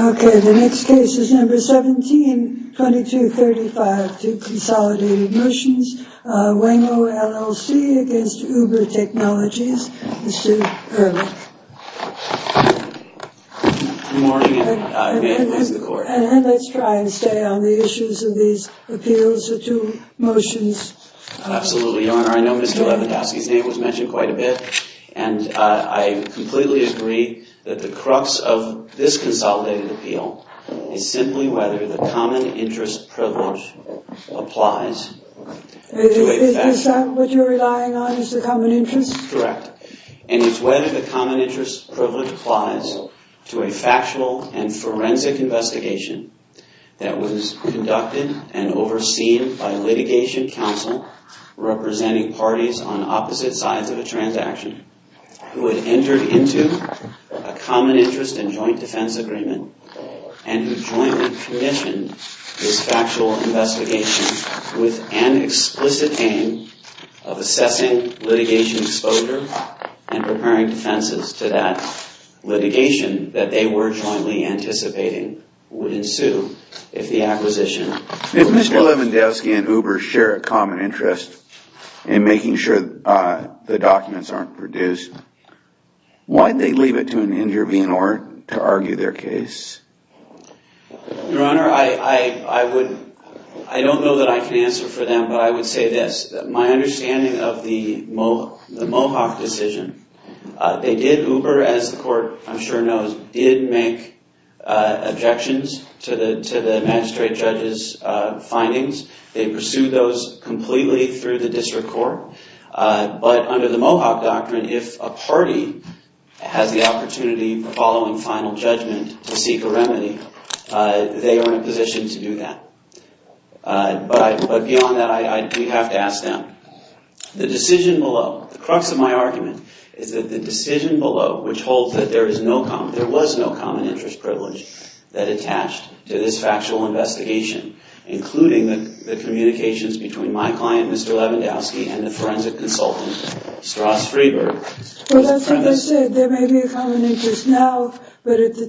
Okay, the next case is number 17-2235, Consolidated Emotions, Waymo LLC v. Uber Technologies, Mr. Hurley. Good morning, and may it please the Court. And let's try and stay on the issues of these appeals or two motions. Absolutely, Your Honor. I know Mr. Lewandowski's name was mentioned quite a bit, and I completely agree that the crux of this consolidated appeal is simply whether the common interest privilege applies. Is that what you're relying on, is the common interest? Correct. And it's whether the common interest privilege applies to a factual and forensic investigation that was conducted and overseen by litigation counsel representing parties on opposite sides of a transaction, who had entered into a common interest and joint defense agreement, and who jointly commissioned this factual investigation with an explicit aim of assessing litigation exposure and preparing defenses to that litigation that they were jointly anticipating would ensue if the acquisition were fulfilled. If Mr. Lewandowski and Uber share a common interest in making sure the documents aren't produced, why did they leave it to an interviewer to argue their case? Your Honor, I don't know that I can answer for them, but I would say this. My understanding of the Mohawk decision, they did, Uber, as the Court I'm sure knows, did make objections to the magistrate judge's findings. They pursued those final judgment to seek a remedy. They are in a position to do that. But beyond that, I do have to ask them. The decision below, the crux of my argument is that the decision below, which holds that there was no common interest privilege that attached to this factual investigation, including the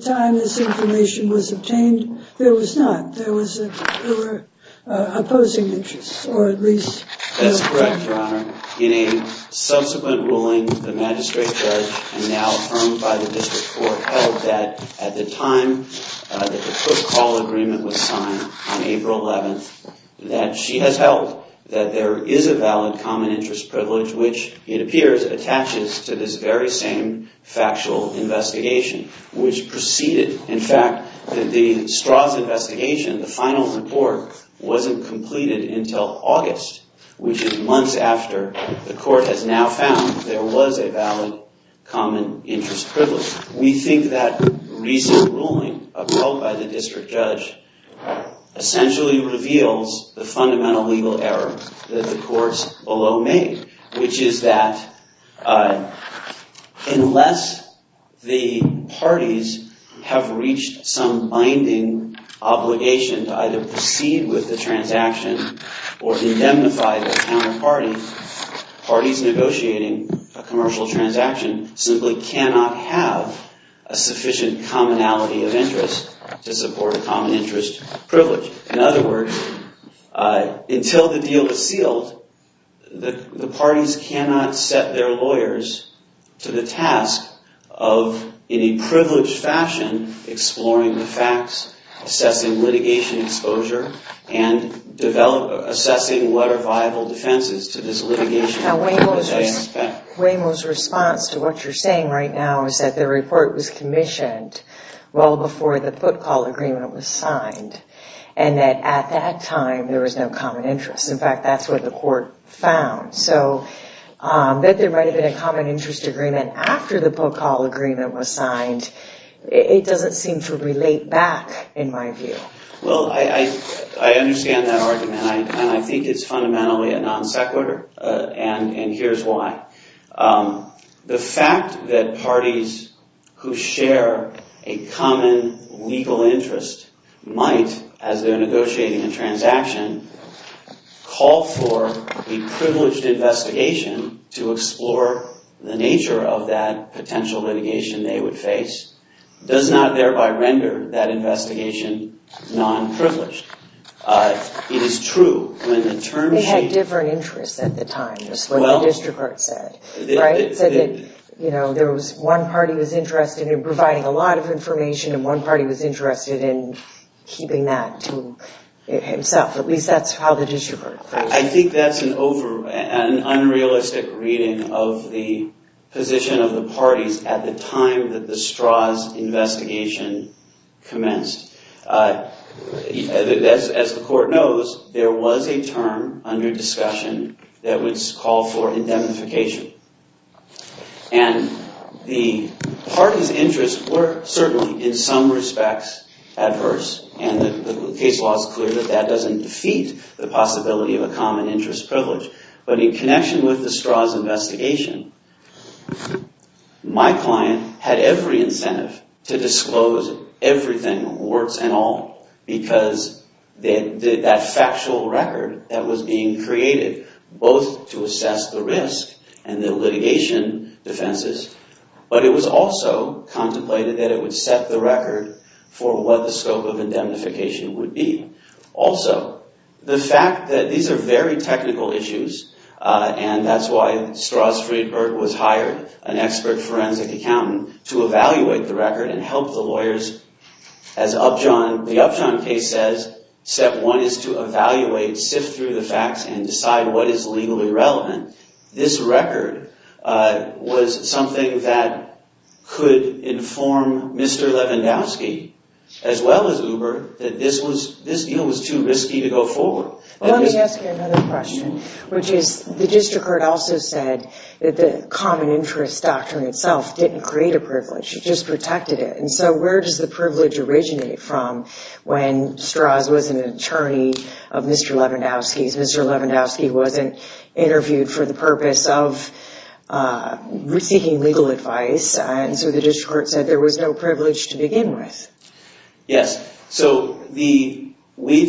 time this information was obtained, there was not. There were opposing interests, or at least... That's correct, Your Honor. In a subsequent ruling, the magistrate judge, and now affirmed by the District Court, held that at the time that the court call agreement was signed on April 11th, that she has held that there is a valid common interest privilege, which it appears attaches to this very same factual investigation, which preceded, in fact, that the Strauss investigation, the final report, wasn't completed until August, which is months after the court has now found there was a valid common interest privilege. We think that recent ruling, upheld by the district judge, essentially reveals the fundamental legal error that the courts below made, which is that unless the parties have reached some binding obligation to either proceed with the transaction or indemnify their counterparty, parties negotiating a commercial transaction simply cannot have a sufficient commonality of until the deal is sealed, the parties cannot set their lawyers to the task of, in a privileged fashion, exploring the facts, assessing litigation exposure, and assessing what are viable defenses to this litigation. Now, Waymo's response to what you're saying right now is that the report was commissioned well before the time there was no common interest. In fact, that's what the court found. So that there might have been a common interest agreement after the book call agreement was signed, it doesn't seem to relate back, in my view. Well, I understand that argument, and I think it's fundamentally a non sequitur, and here's why. The fact that parties who share a common legal interest might, as they're negotiating a transaction, call for a privileged investigation to explore the nature of that potential litigation they would face, does not thereby render that investigation non-privileged. It is true when the term sheet... They had different interests at the time, is what the district court said, right? I think that's an unrealistic reading of the position of the parties at the time that the Strauss investigation commenced. As the court knows, there was a term under discussion that would call for indemnification, and the parties' case law is clear that that doesn't defeat the possibility of a common interest privilege. But in connection with the Strauss investigation, my client had every incentive to disclose everything, words and all, because that factual record that was being created, both to assess the risk and the litigation defenses, but it was also contemplated that it would set the record for what the scope of indemnification would be. Also, the fact that these are very technical issues, and that's why Strauss Friedberg was hired, an expert forensic accountant, to evaluate the record and help the lawyers, as the Upjohn case says, step one is to evaluate, sift through the facts, and decide what is legally relevant. This record was something that could inform Mr. Lewandowski, as well as Uber, that this deal was too risky to go forward. Let me ask you another question, which is, the district court also said that the common interest doctrine itself didn't create a privilege, it just protected it, and so where does the privilege originate from when Strauss was an attorney of Mr. Lewandowski's? Mr. Lewandowski wasn't interviewed for the purpose of seeking legal advice, and so the district court said there was no privilege to begin with. Yes, so we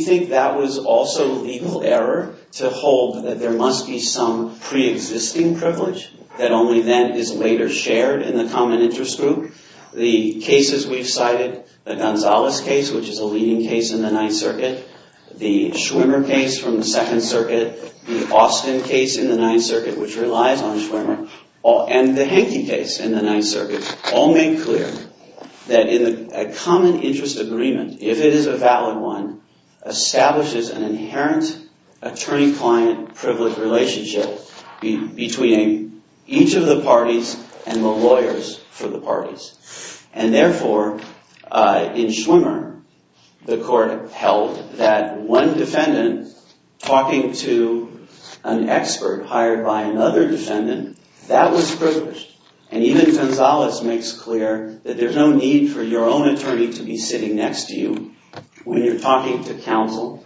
think that was also legal error to hold that there must be some pre-existing privilege that only then is later shared in the common interest group. The cases we've cited, the Gonzales case, which is a leading case in the Ninth Circuit, the Schwimmer case from the Second Circuit, the Austin case in the Ninth Circuit, which relies on Schwimmer, and the Henke case in the Ninth Circuit, all make clear that a common interest agreement, if it is a valid one, establishes an inherent attorney-client privilege relationship between each of the parties and the lawyers for the parties. And therefore, in Schwimmer, the court held that one defendant talking to an expert hired by another defendant, that was privileged. And even Gonzales makes clear that there's no need for your own attorney to be sitting next to you when you're talking to counsel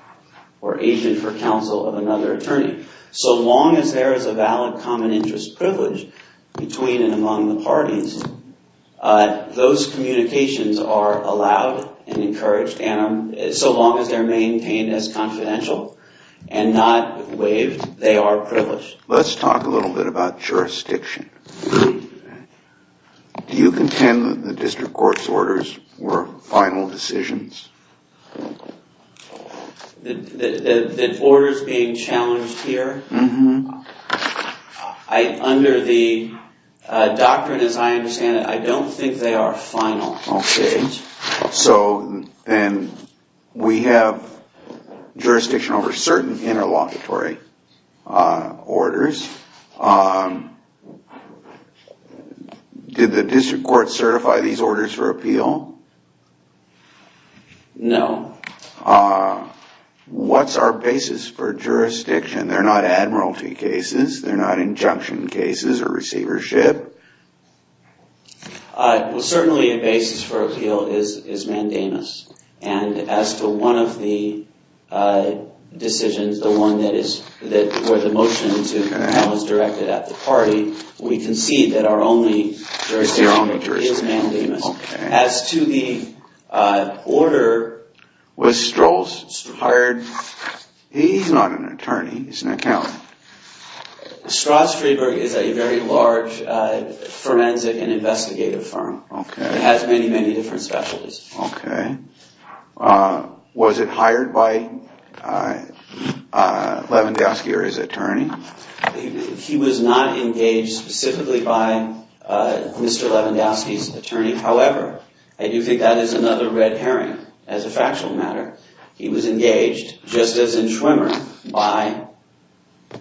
or agent for counsel of another attorney. So long as there is a valid common interest privilege between and among the parties, those communications are allowed and encouraged, and so long as they're maintained as confidential and not waived, they are privileged. Let's talk a little bit about jurisdiction. Do you contend that the district court's orders were final decisions? The orders being challenged here, under the doctrine as I understand it, I don't think they are final decisions. So then we have jurisdiction over certain interlocutory orders. Did the district court certify these orders for appeal? No. What's our basis for jurisdiction? They're not admiralty cases. They're not injunction cases or receivership. Well, certainly a basis for appeal is mandamus. And as to one of the decisions, the one where the motion was directed at the party, we concede that our only jurisdiction is mandamus. As to the order... Was Strolls hired? He's not an attorney. He's an accountant. Strauss-Friedberg is a very large forensic and investigative firm. It has many, many different specialties. Was it hired by Levandowski or his attorney? He was not engaged specifically by Mr. Levandowski's attorney. However, I do think that is another red herring as a factual matter. He was engaged, just as in Schwimmer, by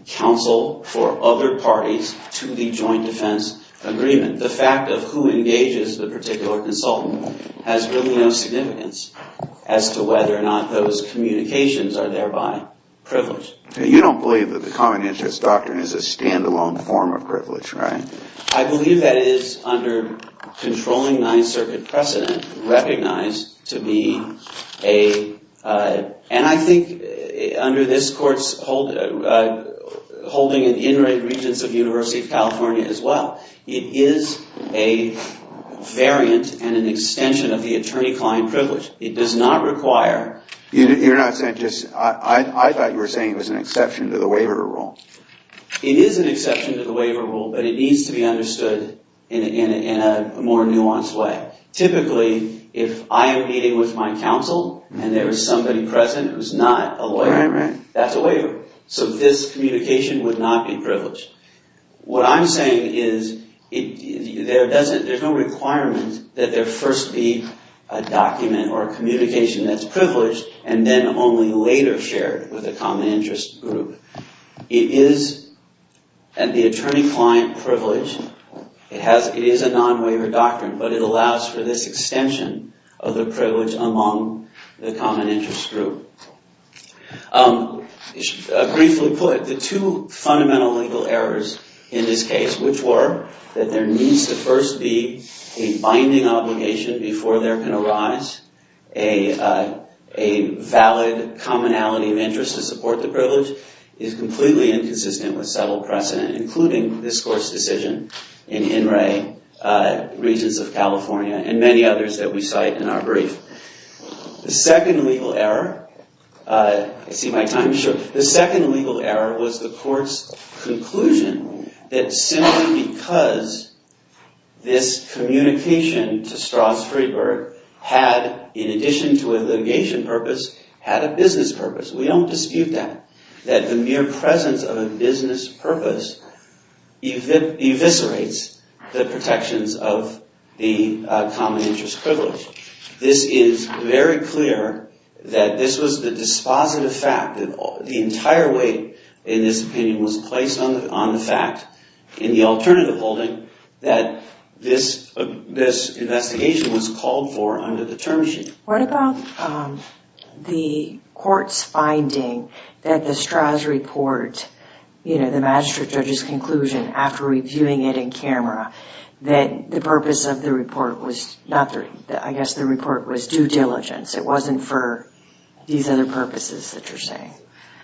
counsel for other parties to the joint defense agreement. The fact of who engages the particular consultant has really no significance as to whether or not those communications are thereby privileged. You don't believe that the common interest doctrine is a stand-alone form of privilege, right? I believe that it is, under controlling Ninth Circuit precedent, recognized to be a... And I think under this court's holding in the in-rate regents of the University of California as well, it is a variant and an extension of the attorney-client privilege. It does not require... You're not saying just... I thought you were saying it was an exception to the waiver rule. It is an exception to the waiver rule, but it needs to be understood in a more nuanced way. Typically, if I am meeting with my counsel and there is somebody present who is not a lawyer, that's a waiver. What I'm saying is there's no requirement that there first be a document or a communication that's privileged and then only later shared with the common interest group. It is the attorney-client privilege. It is a non-waiver doctrine, but it allows for this extension of the privilege among the common interest group. Briefly put, the two fundamental legal errors in this case, which were that there needs to first be a binding obligation before there can arise a valid commonality of interest to support the privilege, is completely inconsistent with settled precedent, including this court's decision in in-rate regents of California and many others that we cite in our brief. The second legal error... I see my time is short. The second legal error was the court's conclusion that simply because this communication to Strauss-Friedberg had, in addition to a litigation purpose, had a business purpose. We don't dispute that, that the mere presence of a business purpose eviscerates the protections of the common interest privilege. This is very clear that this was the dispositive fact that the entire weight in this opinion was placed on the fact in the alternative holding that this investigation was called for under the term sheet. What about the court's finding that the Strauss report, you know, the magistrate judge's conclusion after reviewing it in camera, that the purpose of the report was not... I guess the report was due diligence. It wasn't for these other purposes that you're saying.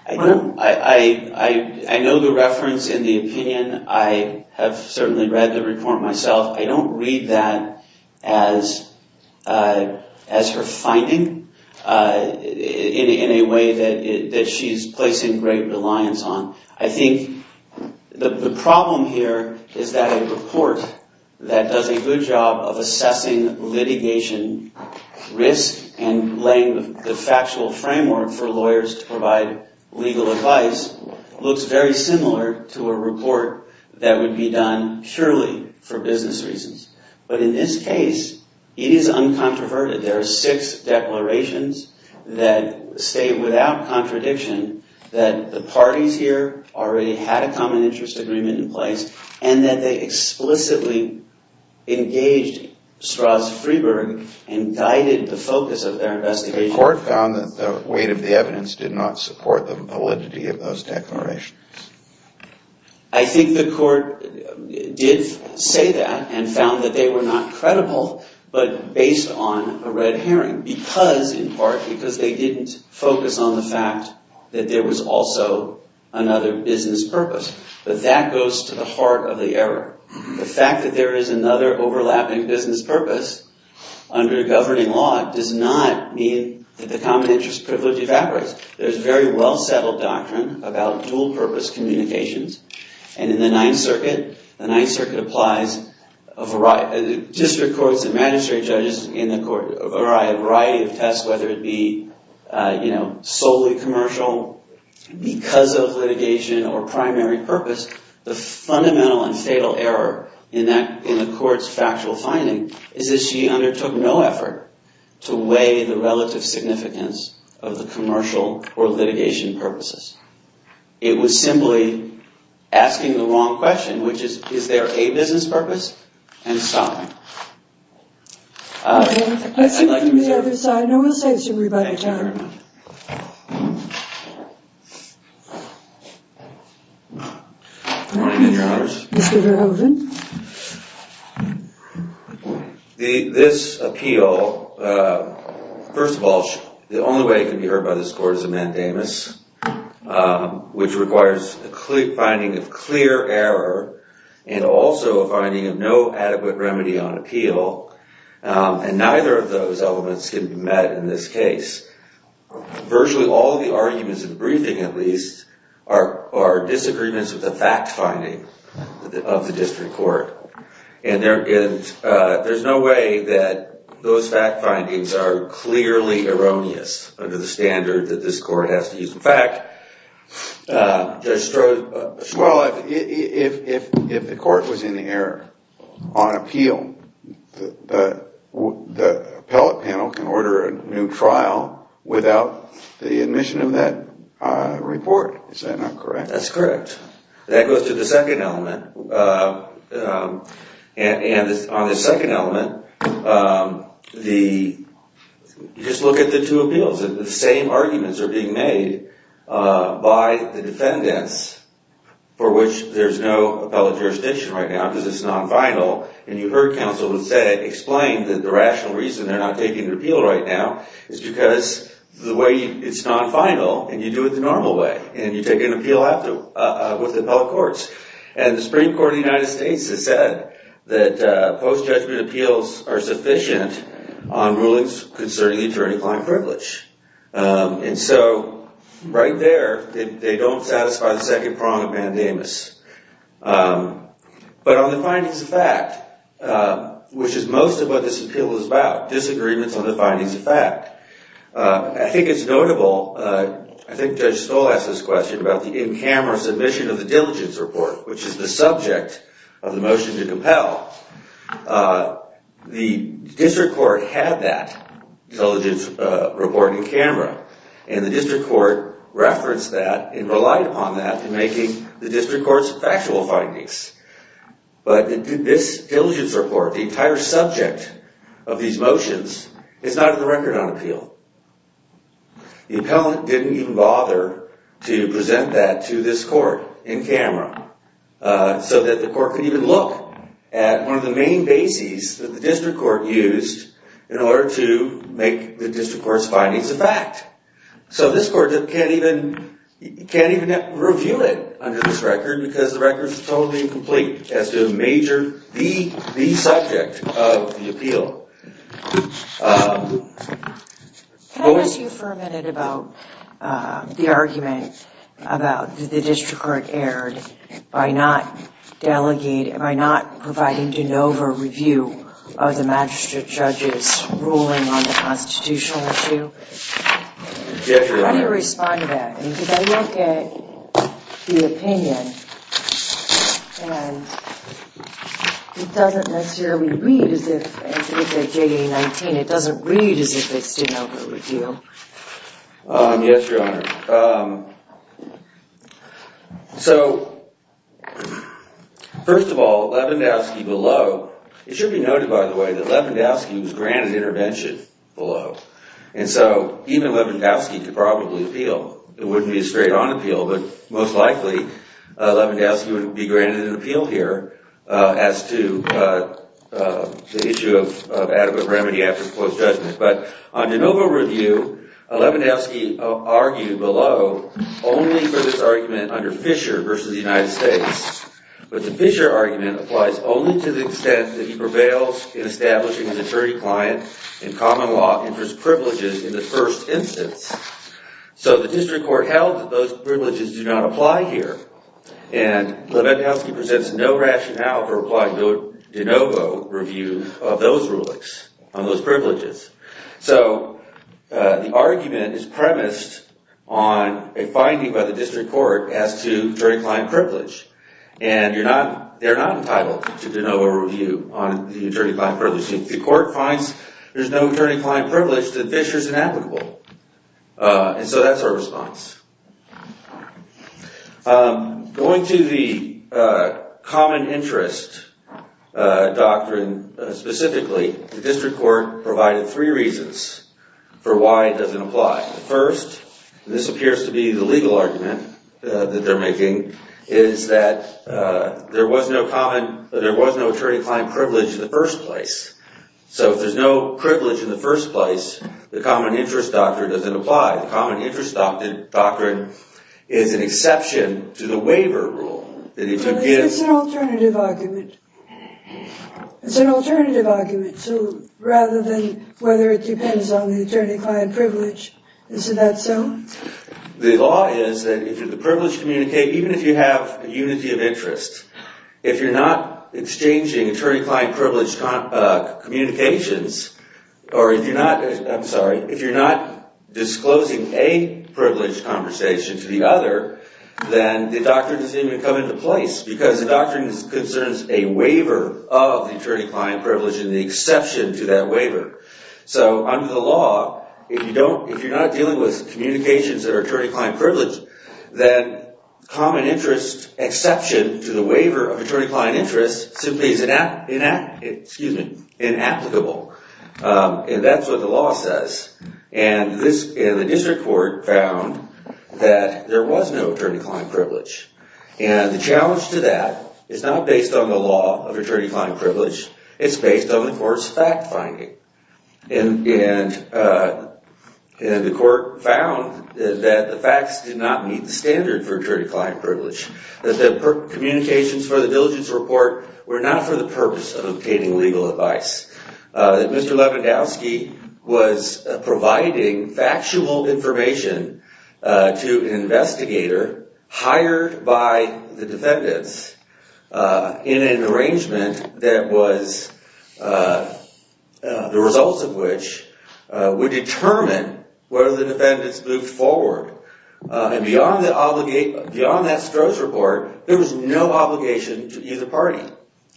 I know the reference in the opinion. I have certainly read the report myself. I don't read that as her finding in a way that she's placing great reliance on. I think the problem here is that a report that does a good job of assessing litigation risk and laying the factual framework for lawyers to provide legal advice looks very similar to a report that would be done purely for business reasons. But in this case, it is uncontroverted. There are six declarations that state without contradiction that the parties here already had a common interest agreement in place and that they explicitly engaged Strauss-Friedberg and guided the focus of their investigation. The court found that the weight of the evidence did not support the validity of those declarations. I think the court did say that and found that they were not credible but based on a red herring because, in part, because they didn't focus on the fact that there was also another business purpose. But that goes to the heart of the error. The fact that there is another overlapping business purpose under governing law does not mean that the common interest privilege evaporates. There's very well-settled doctrine about dual-purpose communications. And in the Ninth Circuit, the Ninth Circuit applies district courts and magistrate judges in the court a variety of tests, whether it be solely commercial, because of litigation, or primary purpose. The fundamental and fatal error in the court's factual finding is that she undertook no effort to weigh the relative significance of the commercial or litigation purposes. It was simply asking the wrong question, which is, is there a business purpose, and stopping. I'd like to move to the other side, and I will say this to everybody. Thank you very much. Good morning, Your Honors. Mr. Verhoeven. This appeal, first of all, the only way it can be heard by this court is a mandamus, which requires a clear finding of clear error and also a finding of no adequate remedy on appeal. And neither of those elements can be met in this case. Virtually all the arguments in the briefing, at least, are disagreements of the fact finding of the district court. And there's no way that those fact findings are clearly erroneous under the standard that this court has to use. In fact, Judge Stroh… Well, if the court was in error on appeal, the appellate panel can order a new trial without the admission of that report. Is that not correct? That's correct. That goes to the second element. And on the second element, just look at the two appeals. The same arguments are being made by the defendants, for which there's no appellate jurisdiction right now because it's non-final. And you heard counsel explain that the rational reason they're not taking the appeal right now is because the way it's non-final, and you do it the normal way. And you take an appeal out with the appellate courts. And the Supreme Court of the United States has said that post-judgment appeals are sufficient on rulings concerning attorney-client privilege. And so right there, they don't satisfy the second prong of mandamus. But on the findings of fact, which is most of what this appeal is about, disagreements on the findings of fact, I think it's notable… I think Judge Stoll asked this question about the in-camera submission of the diligence report, which is the subject of the motion to compel. The district court had that diligence report in camera. And the district court referenced that and relied upon that in making the district court's factual findings. But this diligence report, the entire subject of these motions, is not in the record on appeal. The appellant didn't even bother to present that to this court in camera so that the court could even look at one of the main bases that the district court used in order to make the district court's findings a fact. So this court can't even review it under this record because the record is totally incomplete as to the major… the subject of the appeal. So… Can I ask you for a minute about the argument about the district court erred by not delegating, by not providing de novo review of the magistrate judge's ruling on the constitutional issue? Yes, Your Honor. How do you respond to that? Because I look at the opinion and it doesn't necessarily read as if it's a JDA-19. It doesn't read as if it's de novo appeal. Yes, Your Honor. So, first of all, Lewandowski below… It should be noted, by the way, that Lewandowski was granted intervention below, and so even Lewandowski could probably appeal. It wouldn't be a straight-on appeal, but most likely Lewandowski would be granted an appeal here as to the issue of adequate remedy after close judgment. But on de novo review, Lewandowski argued below only for this argument under Fisher versus the United States. But the Fisher argument applies only to the extent that he prevails in establishing his attorney-client in common law and for his privileges in the first instance. So the district court held that those privileges do not apply here, and Lewandowski presents no rationale for applying de novo review of those rulings, on those privileges. So the argument is premised on a finding by the district court as to attorney-client privilege, and they're not entitled to de novo review on the attorney-client privilege. The court finds there's no attorney-client privilege that Fisher's inapplicable. And so that's our response. Going to the common interest doctrine specifically, the district court provided three reasons for why it doesn't apply. First, this appears to be the legal argument that they're making, is that there was no attorney-client privilege in the first place. So if there's no privilege in the first place, the common interest doctrine doesn't apply. The common interest doctrine is an exception to the waiver rule. It's an alternative argument. It's an alternative argument. So rather than whether it depends on the attorney-client privilege, is that so? The law is that if the privilege communicate, even if you have a unity of interest, if you're not exchanging attorney-client privilege communications, or if you're not, I'm sorry, if you're not disclosing a privilege conversation to the other, then the doctrine doesn't even come into place. Because the doctrine concerns a waiver of the attorney-client privilege and the exception to that waiver. So under the law, if you're not dealing with communications that are attorney-client privilege, then common interest exception to the waiver of attorney-client interest simply is inapplicable. And that's what the law says. And the district court found that there was no attorney-client privilege. And the challenge to that is not based on the law of attorney-client privilege. It's based on the court's fact-finding. And the court found that the facts did not meet the standard for attorney-client privilege. That the communications for the diligence report were not for the purpose of obtaining legal advice. That Mr. Lewandowski was providing factual information to an investigator hired by the defendants in an arrangement that was, the results of which, would determine whether the defendants moved forward. And beyond that Stroh's report, there was no obligation to either party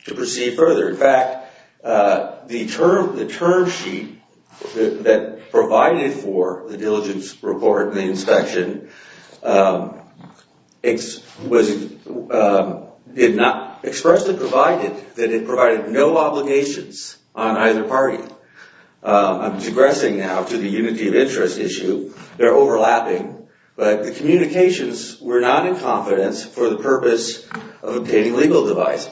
to proceed further. In fact, the term sheet that provided for the diligence report and the inspection did not expressly provide it. That it provided no obligations on either party. I'm digressing now to the unity of interest issue. They're overlapping. But the communications were not in confidence for the purpose of obtaining legal advice.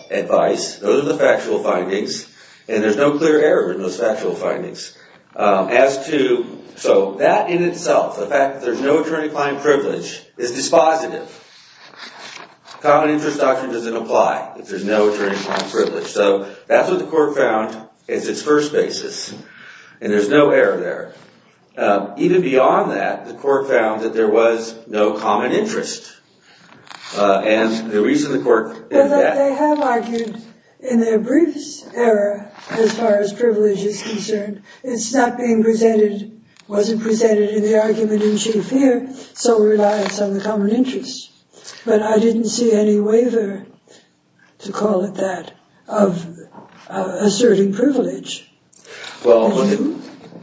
Those are the factual findings. And there's no clear error in those factual findings. So that in itself, the fact that there's no attorney-client privilege, is dispositive. Common interest doctrine doesn't apply if there's no attorney-client privilege. So that's what the court found as its first basis. And there's no error there. Even beyond that, the court found that there was no common interest. And the reason the court did that... But they have argued in their briefs error as far as privilege is concerned. It's not being presented, wasn't presented in the argument in chief here. So it relies on the common interest. But I didn't see any waiver, to call it that, of asserting privilege. Well,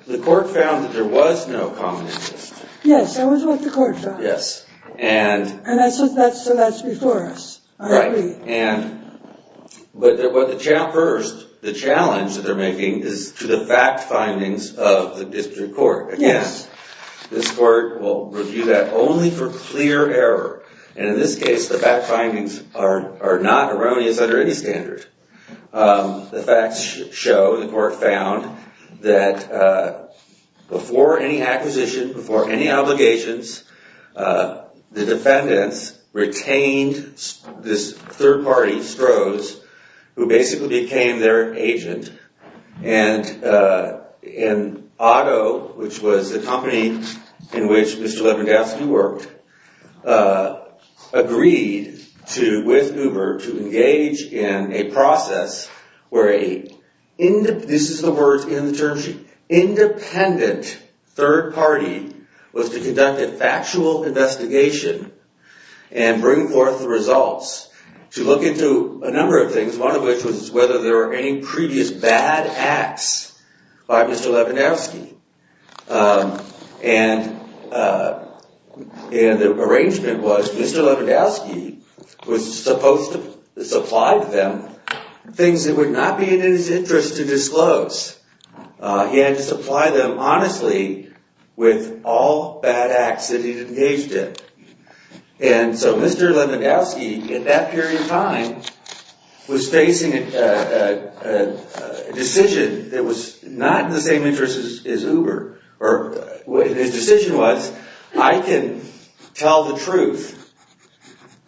the court found that there was no common interest. Yes, that was what the court found. Yes. And so that's before us. Right. But the challenge that they're making is to the fact findings of the district court. Yes. This court will review that only for clear error. And in this case, the fact findings are not erroneous under any standard. The facts show, the court found, that before any acquisition, before any obligations, the defendants retained this third party, Strohs, who basically became their agent. And Otto, which was the company in which Mr. Levandowski worked, agreed to, with Uber, to engage in a process where a... This is the words in the term sheet. Independent third party was to conduct a factual investigation and bring forth the results to look into a number of things, one of which was whether there were any previous bad acts by Mr. Levandowski. And the arrangement was Mr. Levandowski was supposed to supply them things that would not be in his interest to disclose. He had to supply them honestly with all bad acts that he'd engaged in. And so Mr. Levandowski, at that period of time, was facing a decision that was not in the same interest as Uber. His decision was, I can tell the truth,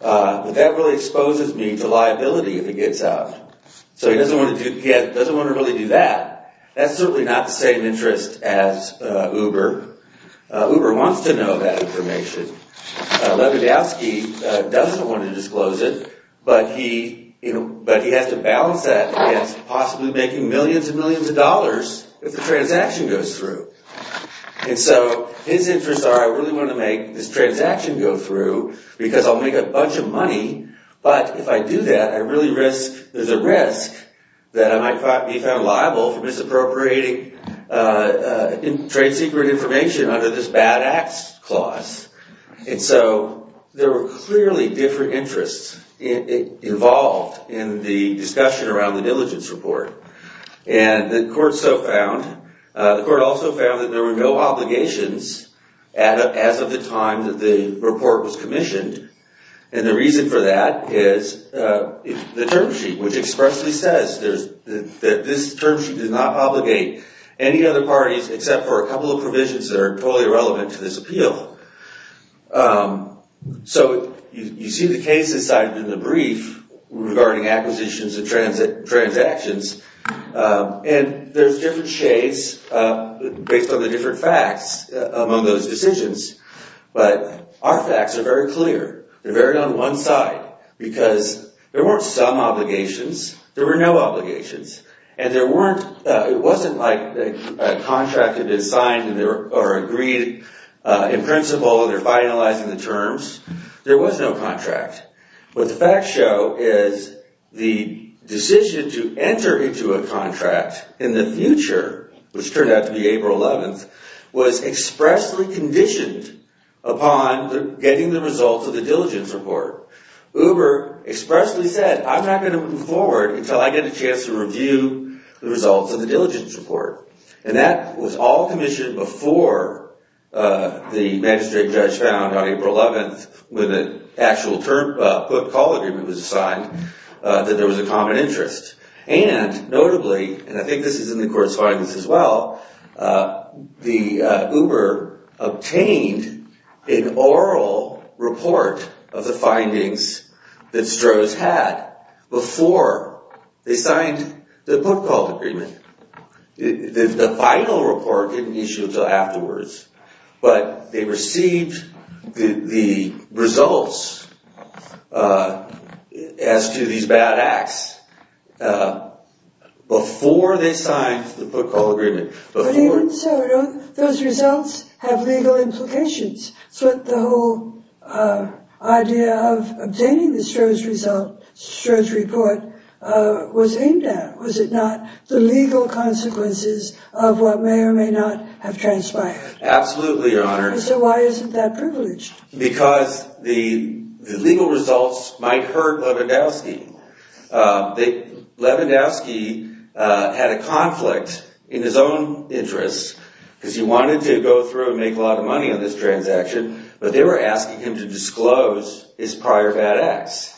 but that really exposes me to liability if it gets out. So he doesn't want to really do that. That's certainly not the same interest as Uber. Uber wants to know that information. Levandowski doesn't want to disclose it. But he has to balance that against possibly making millions and millions of dollars if the transaction goes through. And so his interests are, I really want to make this transaction go through because I'll make a bunch of money. But if I do that, there's a risk that I might be found liable for misappropriating trade secret information under this bad acts clause. And so there were clearly different interests involved in the discussion around the diligence report. And the court also found that there were no obligations as of the time that the report was commissioned. And the reason for that is the term sheet, which expressly says that this term sheet does not obligate any other parties except for a couple of provisions that are totally irrelevant to this appeal. So you see the cases cited in the brief regarding acquisitions and transactions. And there's different shades based on the different facts among those decisions. But our facts are very clear. They're very on one side because there weren't some obligations. There were no obligations. And there weren't, it wasn't like a contract had been signed or agreed in principle and they're finalizing the terms. There was no contract. What the facts show is the decision to enter into a contract in the future, which turned out to be April 11th, was expressly conditioned upon getting the results of the diligence report. Uber expressly said, I'm not going to move forward until I get a chance to review the results of the diligence report. And that was all commissioned before the magistrate judge found on April 11th, when the actual term put-call agreement was signed, that there was a common interest. And notably, and I think this is in the court's findings as well, the Uber obtained an oral report of the findings that Strohs had before they signed the put-call agreement. The final report didn't issue until afterwards. But they received the results as to these bad acts before they signed the put-call agreement. But even so, don't those results have legal implications? It's what the whole idea of obtaining the Strohs report was aimed at. Was it not the legal consequences of what may or may not have transpired? Absolutely, Your Honor. So why isn't that privileged? Because the legal results might hurt Lewandowski. Lewandowski had a conflict in his own interests, because he wanted to go through and make a lot of money on this transaction. But they were asking him to disclose his prior bad acts.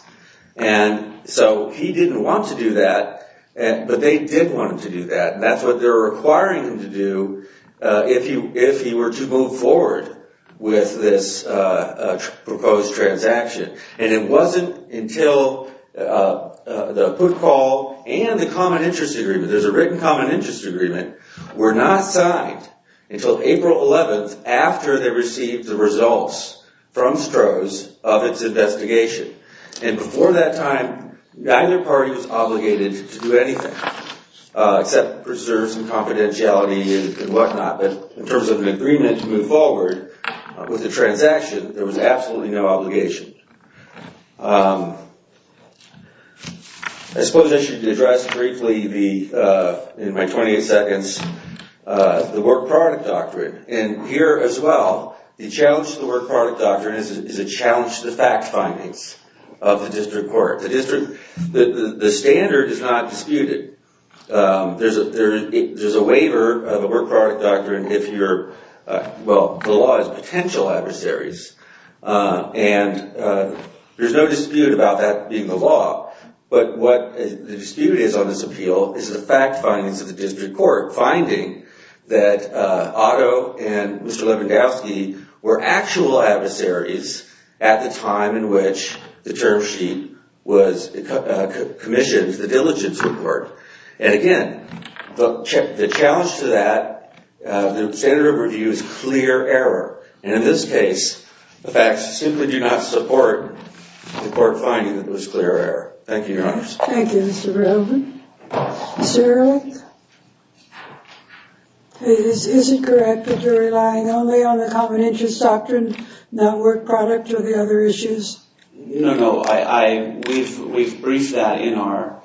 And so he didn't want to do that, but they did want him to do that. And that's what they're requiring him to do if he were to move forward with this proposed transaction. And it wasn't until the put-call and the common interest agreement, there's a written common interest agreement, were not signed until April 11th, after they received the results from Strohs of its investigation. And before that time, neither party was obligated to do anything except preserve some confidentiality and whatnot. But in terms of an agreement to move forward with the transaction, there was absolutely no obligation. I suppose I should address briefly in my 20 seconds the work product doctrine. And here as well, the challenge to the work product doctrine is a challenge to the fact findings of the district court. The district, the standard is not disputed. There's a waiver of the work product doctrine if you're, well, the law has potential adversaries. And there's no dispute about that being the law. But what the dispute is on this appeal is the fact findings of the district court, finding that Otto and Mr. Levandowski were actual adversaries at the time in which the term sheet was commissioned, the diligence report. And again, the challenge to that, the standard of review is clear error. And in this case, the facts simply do not support the court finding that it was clear error. Thank you, Your Honors. Thank you, Mr. Brogan. Mr. Ehrlich? Is it correct that you're relying only on the common interest doctrine, not work product or the other issues? No, no. We've briefed that in our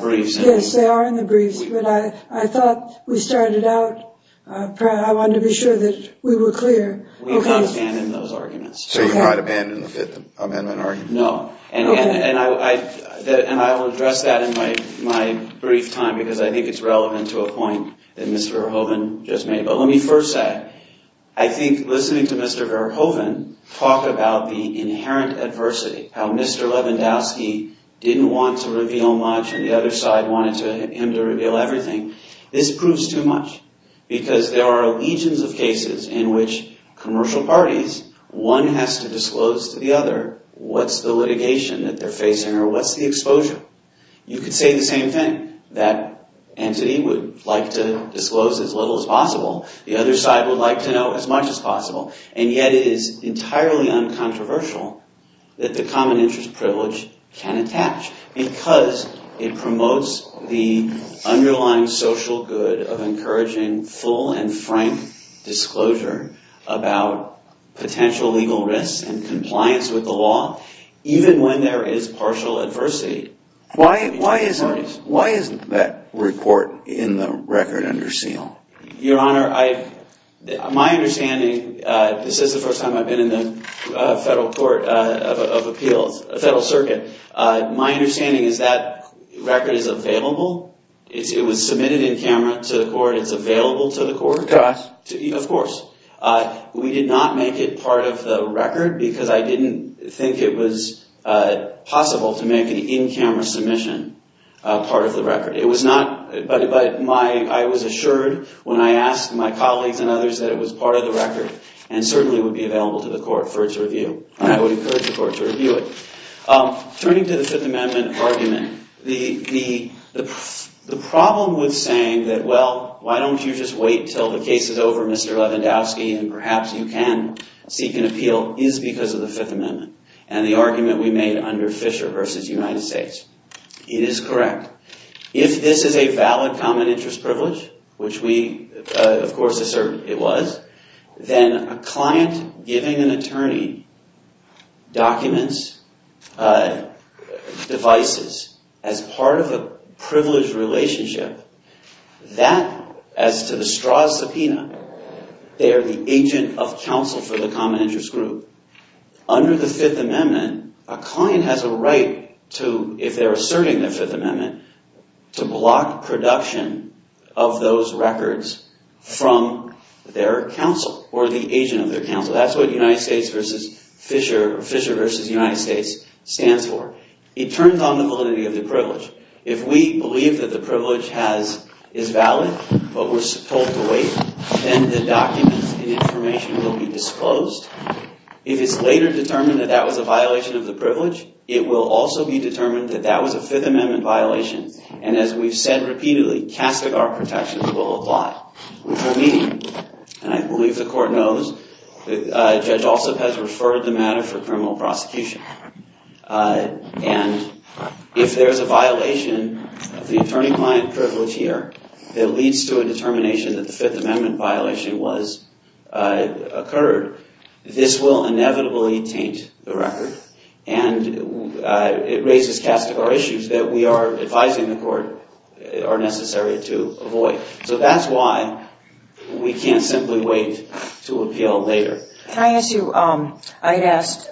briefs. Yes, they are in the briefs. But I thought we started out, I wanted to be sure that we were clear. We can't abandon those arguments. So you're not abandoning the Fifth Amendment argument? No. And I will address that in my brief time because I think it's relevant to a point that Mr. Verhoeven just made. But let me first say, I think listening to Mr. Verhoeven talk about the inherent adversity, how Mr. Lewandowski didn't want to reveal much and the other side wanted him to reveal everything, this proves too much because there are legions of cases in which commercial parties, one has to disclose to the other what's the litigation that they're facing or what's the exposure. You could say the same thing. That entity would like to disclose as little as possible. And yet it is entirely uncontroversial that the common interest privilege can attach because it promotes the underlying social good of encouraging full and frank disclosure about potential legal risks and compliance with the law, even when there is partial adversity. Why isn't that report in the record under seal? Your Honor, my understanding, this is the first time I've been in the Federal Court of Appeals, Federal Circuit. My understanding is that record is available. It was submitted in camera to the court. It's available to the court. Could I? Of course. We did not make it part of the record because I didn't think it was possible to make an in-camera submission part of the record. But I was assured when I asked my colleagues and others that it was part of the record and certainly would be available to the court for its review. I would encourage the court to review it. Turning to the Fifth Amendment argument, the problem with saying that, well, why don't you just wait until the case is over, Mr. Lewandowski, and perhaps you can seek an appeal is because of the Fifth Amendment and the argument we made under Fisher v. United States. It is correct. If this is a valid common interest privilege, which we, of course, assert it was, then a client giving an attorney documents, devices, as part of a privileged relationship, that as to the straw subpoena, they are the agent of counsel for the common interest group. Under the Fifth Amendment, a client has a right to, if they're asserting the Fifth Amendment, to block production of those records from their counsel or the agent of their counsel. That's what Fisher v. United States stands for. It turns on the validity of the privilege. If we believe that the privilege is valid but we're told to wait, then the documents and information will be disclosed. If it's later determined that that was a violation of the privilege, it will also be determined that that was a Fifth Amendment violation, and as we've said repeatedly, castigar protections will apply. Which will mean, and I believe the court knows, that Judge Alsop has referred the matter for criminal prosecution. And if there's a violation of the attorney-client privilege here, that leads to a determination that the Fifth Amendment violation occurred, this will inevitably taint the record, and it raises castigar issues that we are advising the court are necessary to avoid. So that's why we can't simply wait to appeal later. Can I ask you, I had asked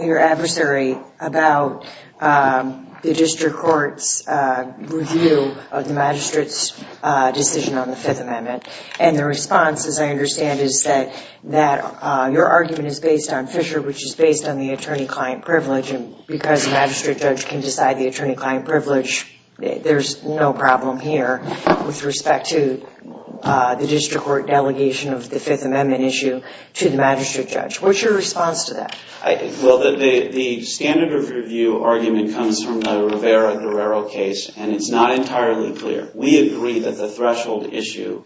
your adversary about the district court's review of the magistrate's decision on the Fifth Amendment, and the response, as I understand, is that your argument is based on Fisher, which is based on the attorney-client privilege, and because a magistrate judge can decide the attorney-client privilege, there's no problem here with respect to the district court delegation of the Fifth Amendment issue. to the magistrate judge. What's your response to that? Well, the standard of review argument comes from the Rivera-Guerrero case, and it's not entirely clear. We agree that the threshold issue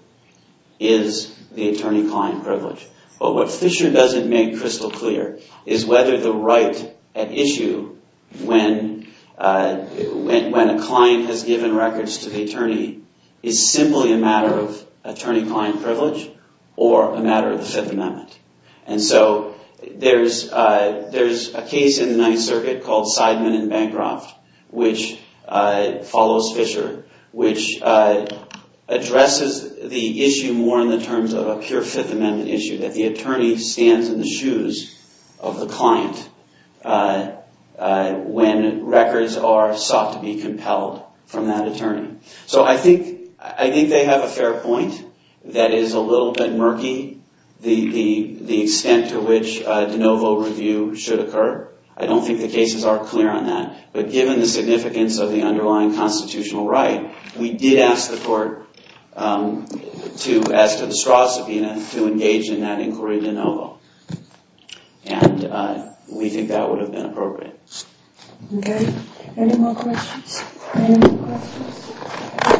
is the attorney-client privilege. But what Fisher doesn't make crystal clear is whether the right at issue when a client has given records to the attorney is simply a matter of attorney-client privilege or a matter of the Fifth Amendment. And so there's a case in the Ninth Circuit called Seidman and Bancroft, which follows Fisher, which addresses the issue more in the terms of a pure Fifth Amendment issue, that the attorney stands in the shoes of the client when records are sought to be compelled from that attorney. So I think they have a fair point that is a little bit murky, the extent to which de novo review should occur. I don't think the cases are clear on that, but given the significance of the underlying constitutional right, we did ask the court to ask for the Strauss subpoena to engage in that inquiry de novo. And we think that would have been appropriate. Any more questions?